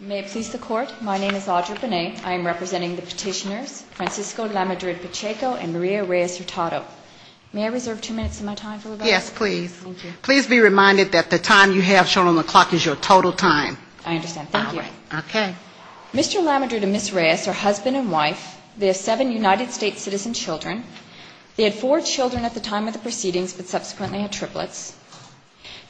May it please the Court, my name is Audra Benet. I am representing the petitioners Francisco Lamadrid-Pacheco and Maria Reyes-Rutado. May I reserve two minutes of my time for rebuttal? Yes, please. Thank you. Please be reminded that the time you have shown on the clock is your total time. I understand. Thank you. Okay. Mr. Lamadrid and Ms. Reyes are husband and wife. They have seven United States citizen children. They had four children at the time of the proceedings, but subsequently had triplets.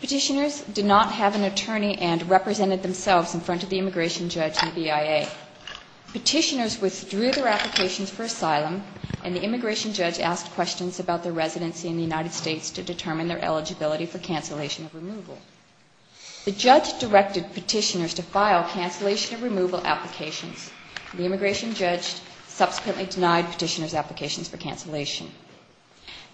Petitioners did not have an attorney and represented themselves in front of the immigration judge and BIA. Petitioners withdrew their applications for asylum, and the immigration judge asked questions about their residency in the United States to determine their eligibility for cancellation of removal. The judge directed petitioners to file cancellation of removal applications. The immigration judge subsequently denied petitioners' applications for cancellation.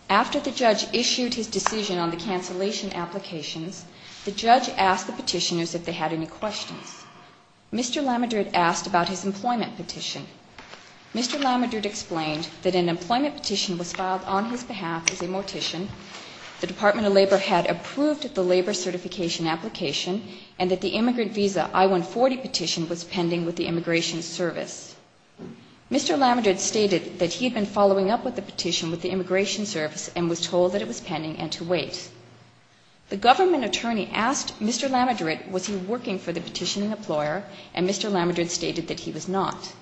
After the judge issued his decision on the cancellation applications, the judge asked the petitioners if they had any questions. Mr. Lamadrid asked about his employment petition. Mr. Lamadrid explained that an employment petition was filed on his behalf as a mortician, the Department of Labor had approved the labor certification application, and that the immigrant visa I-140 petition was pending with the Immigration Service. Mr. Lamadrid stated that he had been following up with the petition with the Immigration Service and was told that it was pending and to wait. The government attorney asked Mr. Lamadrid was he working for the petitioning employer, and Mr. Lamadrid stated that he was not.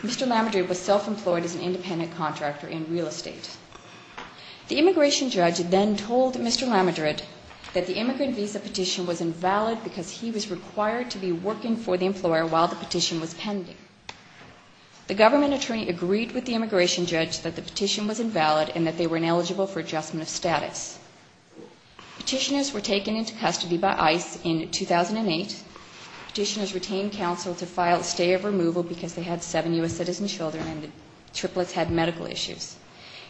Mr. Lamadrid was self-employed as an independent contractor in real estate. The immigration judge then told Mr. Lamadrid that the immigrant visa petition was invalid because he was required to be working for the employer while the petition was pending. The government attorney agreed with the immigration judge that the petition was invalid and that they were ineligible for adjustment of status. Petitioners were taken into custody by ICE in 2008. Petitioners retained counsel to file a stay of removal because they had seven U.S. citizen children and the triplets had medical issues.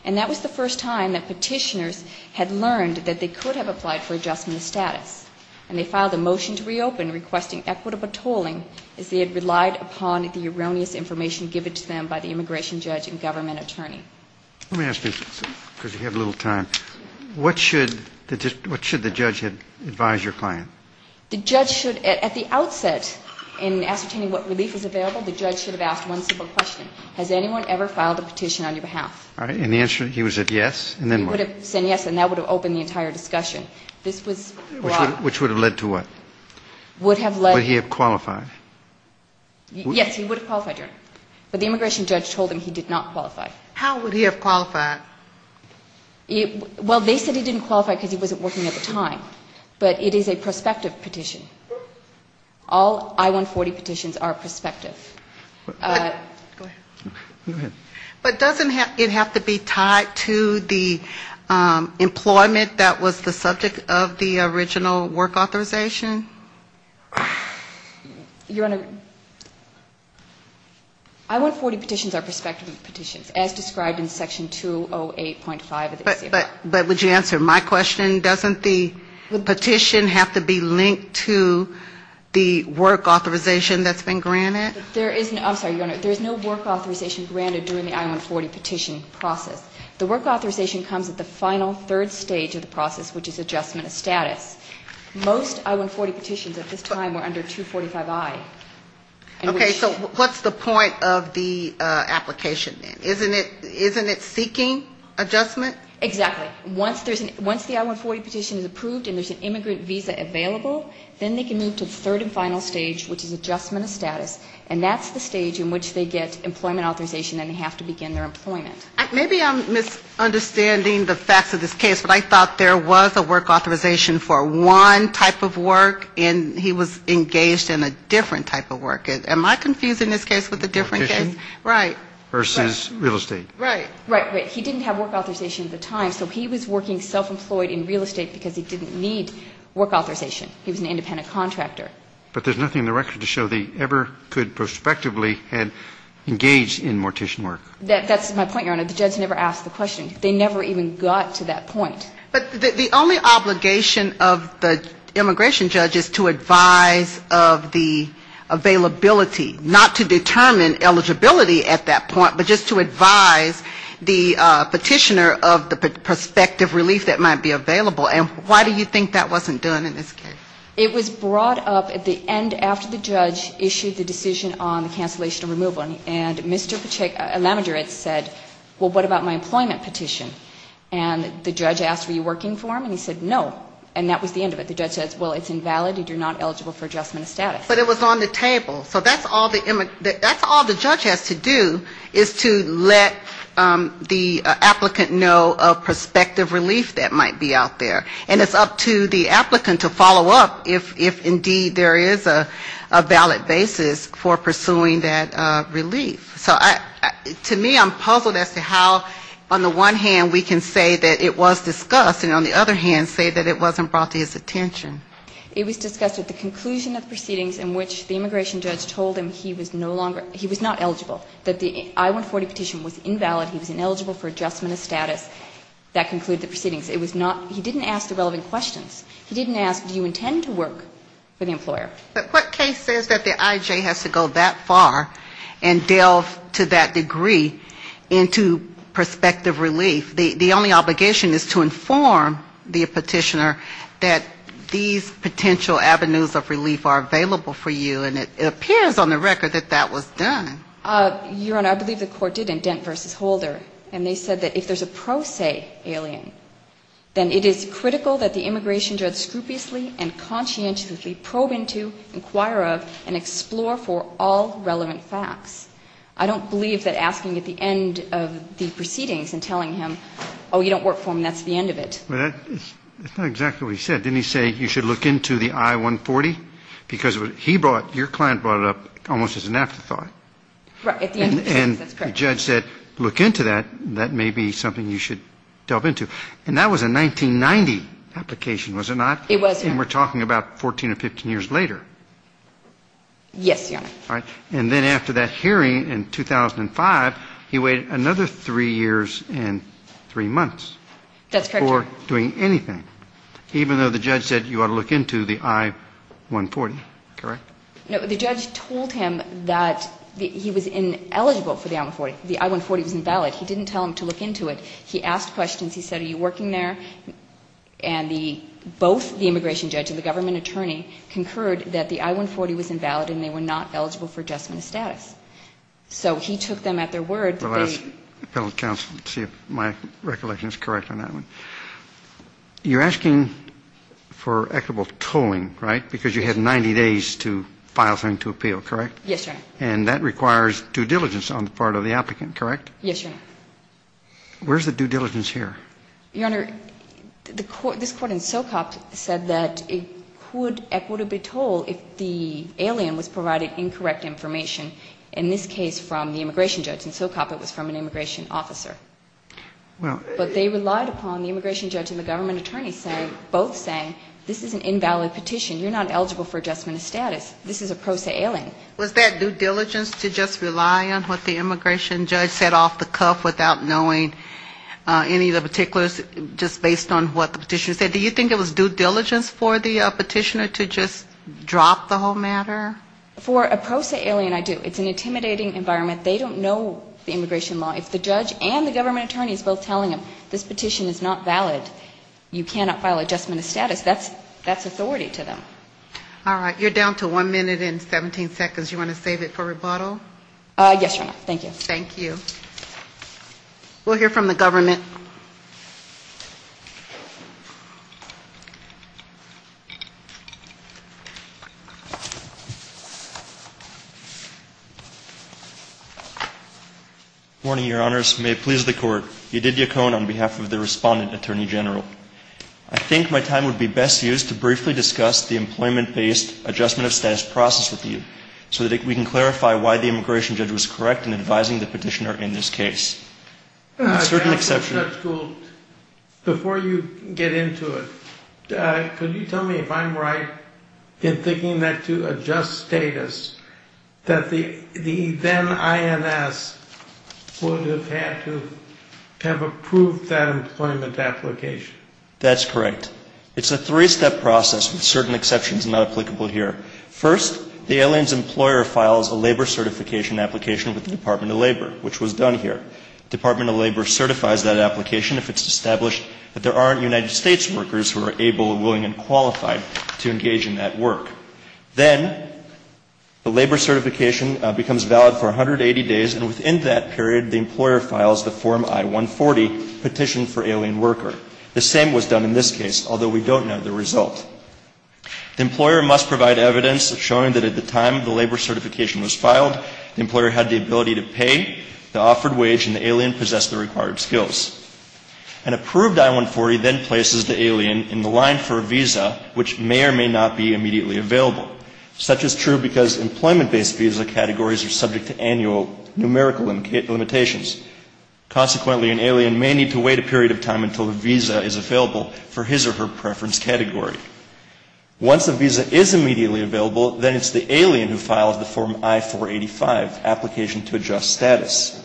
And that was the first time that petitioners had learned that they could have applied for adjustment of status. And they filed a motion to reopen requesting equitable tolling as they had relied upon the erroneous information given to them by the immigration judge and government attorney. Let me ask you, because we have a little time, what should the judge advise your client? The judge should, at the outset, in ascertaining what relief is available, the judge should have asked one simple question. Has anyone ever filed a petition on your behalf? All right, and the answer, he would have said yes, and then what? He would have said yes, and that would have opened the entire discussion. Which would have led to what? Would have led... Would he have qualified? Yes, he would have qualified, Your Honor. But the immigration judge told him he did not qualify. How would he have qualified? Well, they said he didn't qualify because he wasn't working at the time. But it is a prospective petition. All I-140 petitions are prospective. Go ahead. But doesn't it have to be tied to the employment that was the subject of the original work authorization? Your Honor, I-140 petitions are prospective petitions, as described in section 208.5 of the ACIP. But would you answer my question? Doesn't the petition have to be linked to the work authorization that's been granted? There is no work authorization granted during the I-140 petition process. The work authorization comes at the final third stage of the process, which is adjustment of status. Most I-140 petitions at this time were under 245I. Okay. So what's the point of the application then? Isn't it seeking adjustment? Exactly. Once the I-140 petition is approved and there's an immigrant visa available, then they can move to the third and final stage, which is adjustment of status. And that's the stage in which they get employment authorization and have to begin their employment. Maybe I'm misunderstanding the facts of this case, but I thought there was a work authorization for one type of work, and he was engaged in a different type of work. Am I confusing this case with a different case? Mortician. Right. Versus real estate. Right. Right. He didn't have work authorization at the time, so he was working self-employed in real estate because he didn't need work authorization. He was an independent contractor. But there's nothing in the record to show that he ever could prospectively have engaged in mortician work. That's my point, Your Honor. The judge never asked the question. They never even got to that point. But the only obligation of the immigration judge is to advise of the availability, not to determine eligibility at that point, but just to advise the petitioner of the prospective relief that might be available. And why do you think that wasn't done in this case? It was brought up at the end after the judge issued the decision on the cancellation of removal. And Mr. Lavender said, well, what about my employment petition? And the judge asked, were you working for him? And he said, no. And that was the end of it. The judge said, well, it's invalid. You're not eligible for adjustment of status. But it was on the table. So that's all the judge has to do is to let the applicant know of prospective relief that might be out there. And it's up to the applicant to follow up if indeed there is a valid basis for pursuing that relief. So to me I'm puzzled as to how on the one hand we can say that it was discussed, and on the other hand say that it wasn't brought to his attention. It was discussed at the conclusion of proceedings in which the immigration judge told him he was no longer, he was not eligible, that the I-140 petition was invalid, he was ineligible for adjustment of status. That concluded the proceedings. It was not, he didn't ask the relevant questions. He didn't ask, do you intend to work for the employer? But what case says that the IJ has to go that far and delve to that degree into prospective relief? The only obligation is to inform the petitioner that these potential avenues of relief are available for you, and it appears on the record that that was done. Your Honor, I believe the court did indent versus holder, and they said that if there's a pro se alien, then it is critical that the immigration judge scrupulously and conscientiously probe into, inquire of, and explore for all relevant facts. I don't believe that asking at the end of the proceedings and telling him, oh, you don't work for him, that's the end of it. It's not exactly what he said. Didn't he say you should look into the I-140? Because what he brought, your client brought it up almost as an afterthought. Right. At the end of the proceedings, that's correct. The judge said look into that, that may be something you should delve into. And that was a 1990 application, was it not? It was, Your Honor. And we're talking about 14 or 15 years later. Yes, Your Honor. All right. And then after that hearing in 2005, he waited another three years and three months. That's correct, Your Honor. Before doing anything, even though the judge said you ought to look into the I-140, correct? No, the judge told him that he was ineligible for the I-140. The I-140 was invalid. He didn't tell him to look into it. He asked questions. He said are you working there? And both the immigration judge and the government attorney concurred that the I-140 was invalid and they were not eligible for adjustment of status. So he took them at their word. The last appellate counsel, let's see if my recollection is correct on that one. You're asking for equitable tolling, right, because you had 90 days to file something to appeal, correct? Yes, Your Honor. And that requires due diligence on the part of the applicant, correct? Yes, Your Honor. Where's the due diligence here? Your Honor, this court in Socop said that it could equitably toll if the alien was provided incorrect information, in this case from the immigration judge. In Socop it was from an immigration officer. But they relied upon the immigration judge and the government attorney both saying this is an invalid petition. You're not eligible for adjustment of status. This is a pro se alien. Was that due diligence to just rely on what the immigration judge said off the cuff without knowing any of the particulars just based on what the petitioner said? Do you think it was due diligence for the petitioner to just drop the whole matter? For a pro se alien, I do. It's an intimidating environment. They don't know the immigration law. If the judge and the government attorney is both telling them this petition is not valid, you cannot file adjustment of status, that's authority to them. All right. You're down to one minute and 17 seconds. You want to save it for rebuttal? Yes, Your Honor. Thank you. Thank you. We'll hear from the government. Good morning, Your Honors. May it please the Court. Your Honor, I would like to ask a question on behalf of Judge Gould. You did your cone on behalf of the respondent, Attorney General. I think my time would be best used to briefly discuss the employment-based adjustment of status process with you so that we can clarify why the immigration judge was correct in advising the petitioner in this case. Before you get into it, could you tell me if I'm right in thinking that to adjust status, that the then INS would have had to adjust the petitioner's status? To have approved that employment application. That's correct. It's a three-step process with certain exceptions not applicable here. First, the aliens' employer files a labor certification application with the Department of Labor, which was done here. The Department of Labor certifies that application if it's established that there aren't United States workers who are able, willing, and qualified to engage in that work. Then the labor certification becomes valid for 180 days, and within that period, the employer files the form I-147. The employer then submits the application to the Department of Labor, which is then subject to the I-140 petition for alien worker. The same was done in this case, although we don't know the result. The employer must provide evidence showing that at the time the labor certification was filed, the employer had the ability to pay the offered wage and the alien possessed the required skills. An approved I-140 then places the alien in the line for a visa which may or may not be immediately available. The alien may need to wait a period of time until the visa is available for his or her preference category. Once the visa is immediately available, then it's the alien who files the form I-485, application to adjust status.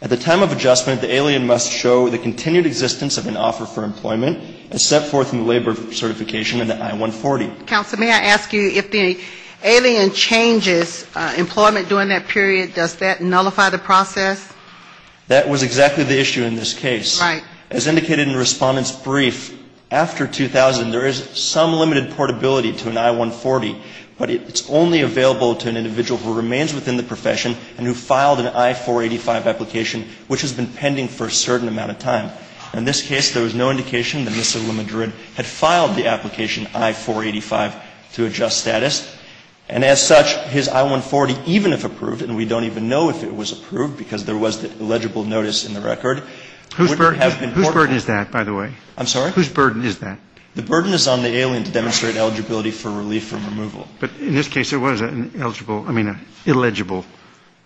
At the time of adjustment, the alien must show the continued existence of an offer for employment as set forth in the labor certification in the I-140. Counsel, may I ask you, if the alien changes employment during that period, does that nullify the process? That was exactly the issue in this case. Right. As indicated in Respondent's brief, after 2000, there is some limited portability to an I-140, but it's only available to an individual who remains within the profession and who filed an I-485 application which has been pending for a certain amount of time. In this case, there was no indication that Mr. LeMadrid had filed the application I-485 to adjust status. And as such, his I-140, even if approved, and we don't even know if it was approved because there was the illegible notice in the record, would have been portable. Whose burden is that, by the way? I'm sorry? Whose burden is that? The burden is on the alien to demonstrate eligibility for relief from removal. But in this case, it was an eligible, I mean, an illegible form.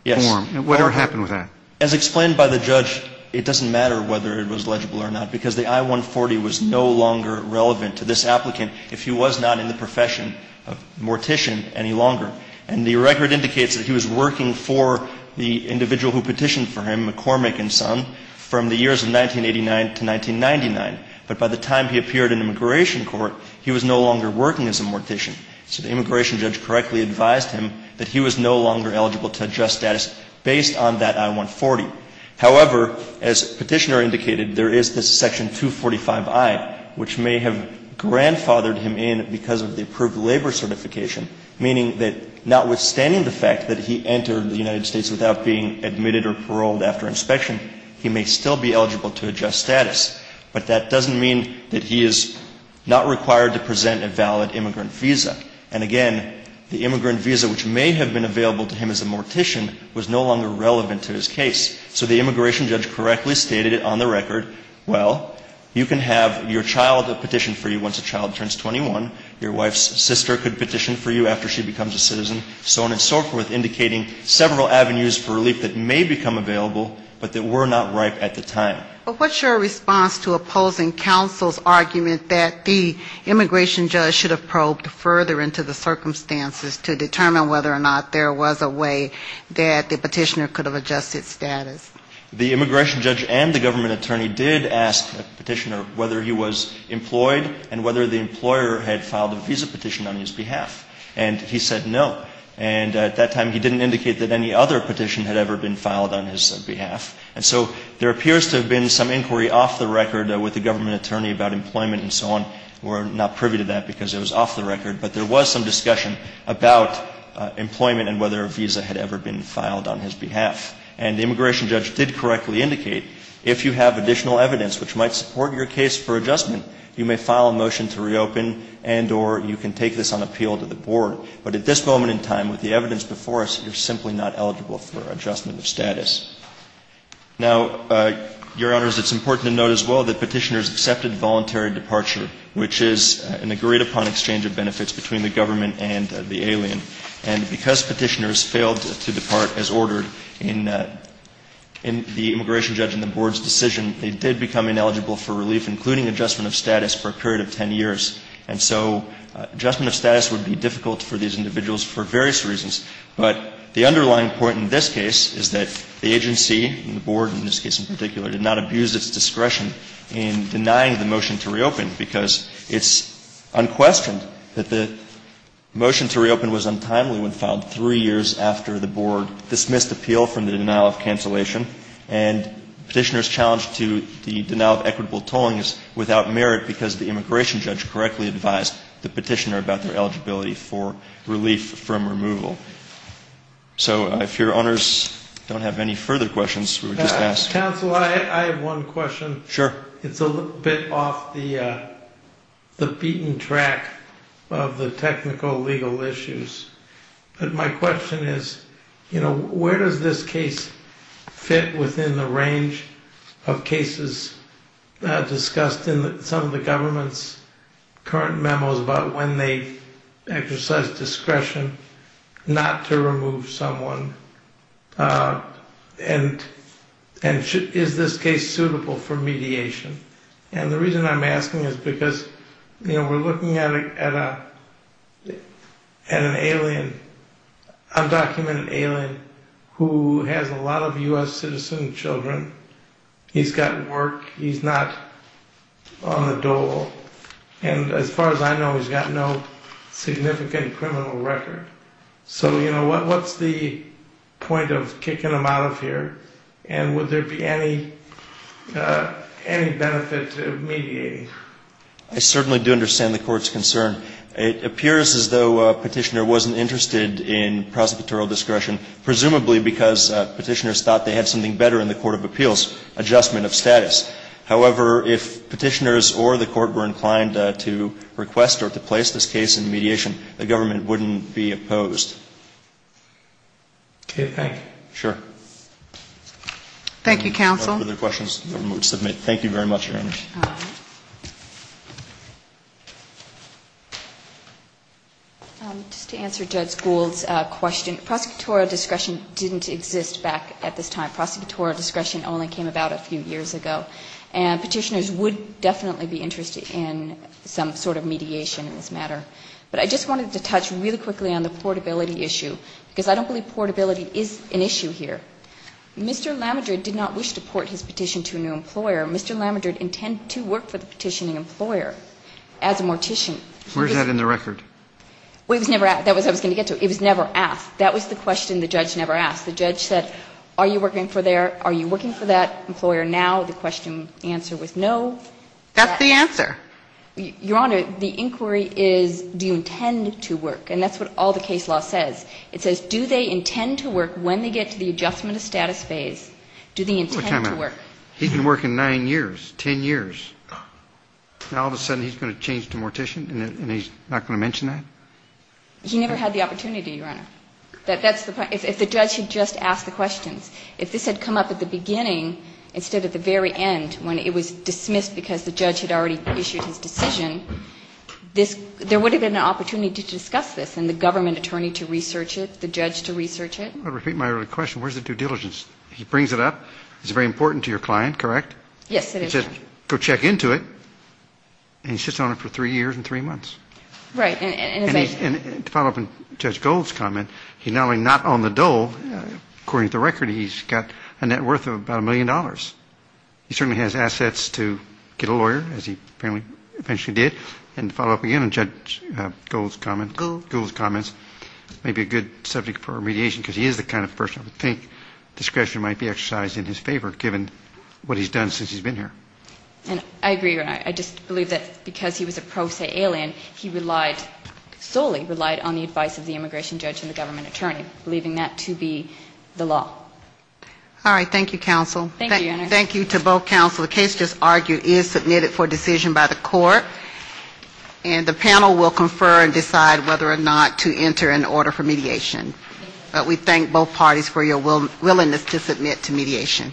Yes. Whatever happened with that? As explained by the judge, it doesn't matter whether it was legible or not because the I-140 was no longer relevant to this applicant. If he was not in the profession of mortician any longer. And the record indicates that he was working for the individual who petitioned for him, McCormick and Son, from the years of 1989 to 1999. But by the time he appeared in immigration court, he was no longer working as a mortician. So the immigration judge correctly advised him that he was no longer eligible to adjust status based on that I-140. However, as Petitioner indicated, there is this section 245i, which may have grandfathered him in because of the approved labor certification, meaning that notwithstanding the fact that he entered the United States without being admitted or paroled after inspection, he may still be eligible to adjust status. But that doesn't mean that he is not required to present a valid immigrant visa. And again, the immigrant visa which may have been available to him as a mortician was no longer relevant to his case. So the immigration judge correctly stated it on the record. Well, you can have your child petition for you once a child turns 21. Your wife's sister could petition for you after she becomes a citizen, so on and so forth, indicating several avenues for relief that may become available, but that were not ripe at the time. But what's your response to opposing counsel's argument that the immigration judge should have probed further into the circumstances to determine whether or not there was a way that the Petitioner could have adjusted status? The immigration judge and the government attorney did ask Petitioner whether he was employed and whether the employer had filed a visa petition on his behalf. And he said no. And at that time, he didn't indicate that any other petition had ever been filed on his behalf. And so there appears to have been some inquiry off the record with the government attorney about employment and so on. We're not privy to that because it was off the record. But there was some discussion about employment and whether a visa had ever been filed on his behalf. And the immigration judge did correctly indicate if you have additional evidence which might support your case for adjustment, you may file a motion to reopen and or you can take this on appeal to the board. But at this moment in time, with the evidence before us, you're simply not eligible for adjustment of status. Now, Your Honors, it's important to note as well that Petitioners accepted voluntary departure, which is an agreed-upon exchange of benefits between the government and the alien. And because Petitioners failed to depart as ordered in the immigration judge and the board's decision, they did become ineligible for relief, including adjustment of status for a period of 10 years. And so adjustment of status would be difficult for these individuals for various reasons. But the underlying point in this case is that the agency and the board in this case in particular did not abuse its discretion in denying the motion to reopen because it's unquestioned that the motion to reopen was untimely when filed three years after the board dismissed appeal from the denial of cancellation. And Petitioners challenged to the denial of equitable tolling is without merit because the immigration judge correctly advised the Petitioner about their eligibility for relief from removal. So if Your Honors don't have any further questions, we would just ask. Counsel, I have one question. Sure. It's a little bit off the beaten track of the technical legal issues. But my question is, you know, where does this case fit within the range of cases discussed in some of the government's current memos about when they exercise discretion not to remove someone? And is this case suitable for mediation? And the reason I'm asking is because, you know, we're looking at an alien, undocumented alien who has a lot of U.S. citizen children. He's got work. He's not on the dole. And as far as I know, he's got no significant criminal record. So, you know, what's the point of kicking him out of here? And would there be any benefit to mediating? I certainly do understand the Court's concern. It appears as though Petitioner wasn't interested in prosecutorial discretion, presumably because Petitioners thought they had something better in the Court of Appeals, adjustment of status. However, if Petitioners or the Court were inclined to request or to place this case in mediation, the government wouldn't be opposed. Okay. Thank you. Sure. Thank you, Counsel. Thank you very much, Your Honor. Just to answer Judge Gould's question, prosecutorial discretion didn't exist back at this time. Prosecutorial discretion only came about a few years ago. And Petitioners would definitely be interested in some sort of mediation in this matter. But I just wanted to touch really quickly on the portability issue, because I don't believe portability is an issue here. Mr. Lamadrid did not wish to port his petition to a new employer. Mr. Lamadrid intended to work for the petitioning employer as a mortician. Where is that in the record? Well, it was never asked. That's what I was going to get to. It was never asked. That was the question the judge never asked. The judge said, are you working for that employer now? The answer was no. That's the answer. Your Honor, the inquiry is, do you intend to work? And that's what all the case law says. It says, do they intend to work when they get to the adjustment of status phase? Do they intend to work? He's been working 9 years, 10 years. Now all of a sudden he's going to change to mortician and he's not going to mention that? He never had the opportunity, Your Honor. That's the point. If the judge had just asked the questions, if this had come up at the beginning instead of the very end when it was dismissed because the judge had already issued his decision, there would have been an opportunity to discuss this and the government attorney to research it, the judge to research it. I'll repeat my earlier question. Where's the due diligence? He brings it up. It's very important to your client, correct? Yes, it is, Your Honor. Go check into it and he sits on it for 3 years and 3 months. Right. And to follow up on Judge Gold's comment, he's not only not on the dole, according to the record, he's got a net worth of about $1 million. He certainly has assets to get a lawyer as he apparently eventually did. And to follow up again on Judge Gold's comments, maybe a good subject for remediation because he is the kind of person I think discretion might be exercised in his favor given what he's done since he's been here. And I agree, Your Honor. I just believe that because he was a pro se alien, he relied, solely relied on the advice of the immigration judge and the government attorney, believing that to be the law. All right. Thank you, counsel. Thank you, Your Honor. Thank you to both counsel. The case just argued is submitted for decision by the court. And the panel will confer and decide whether or not to enter an order for mediation. But we thank both parties for your willingness to submit to mediation.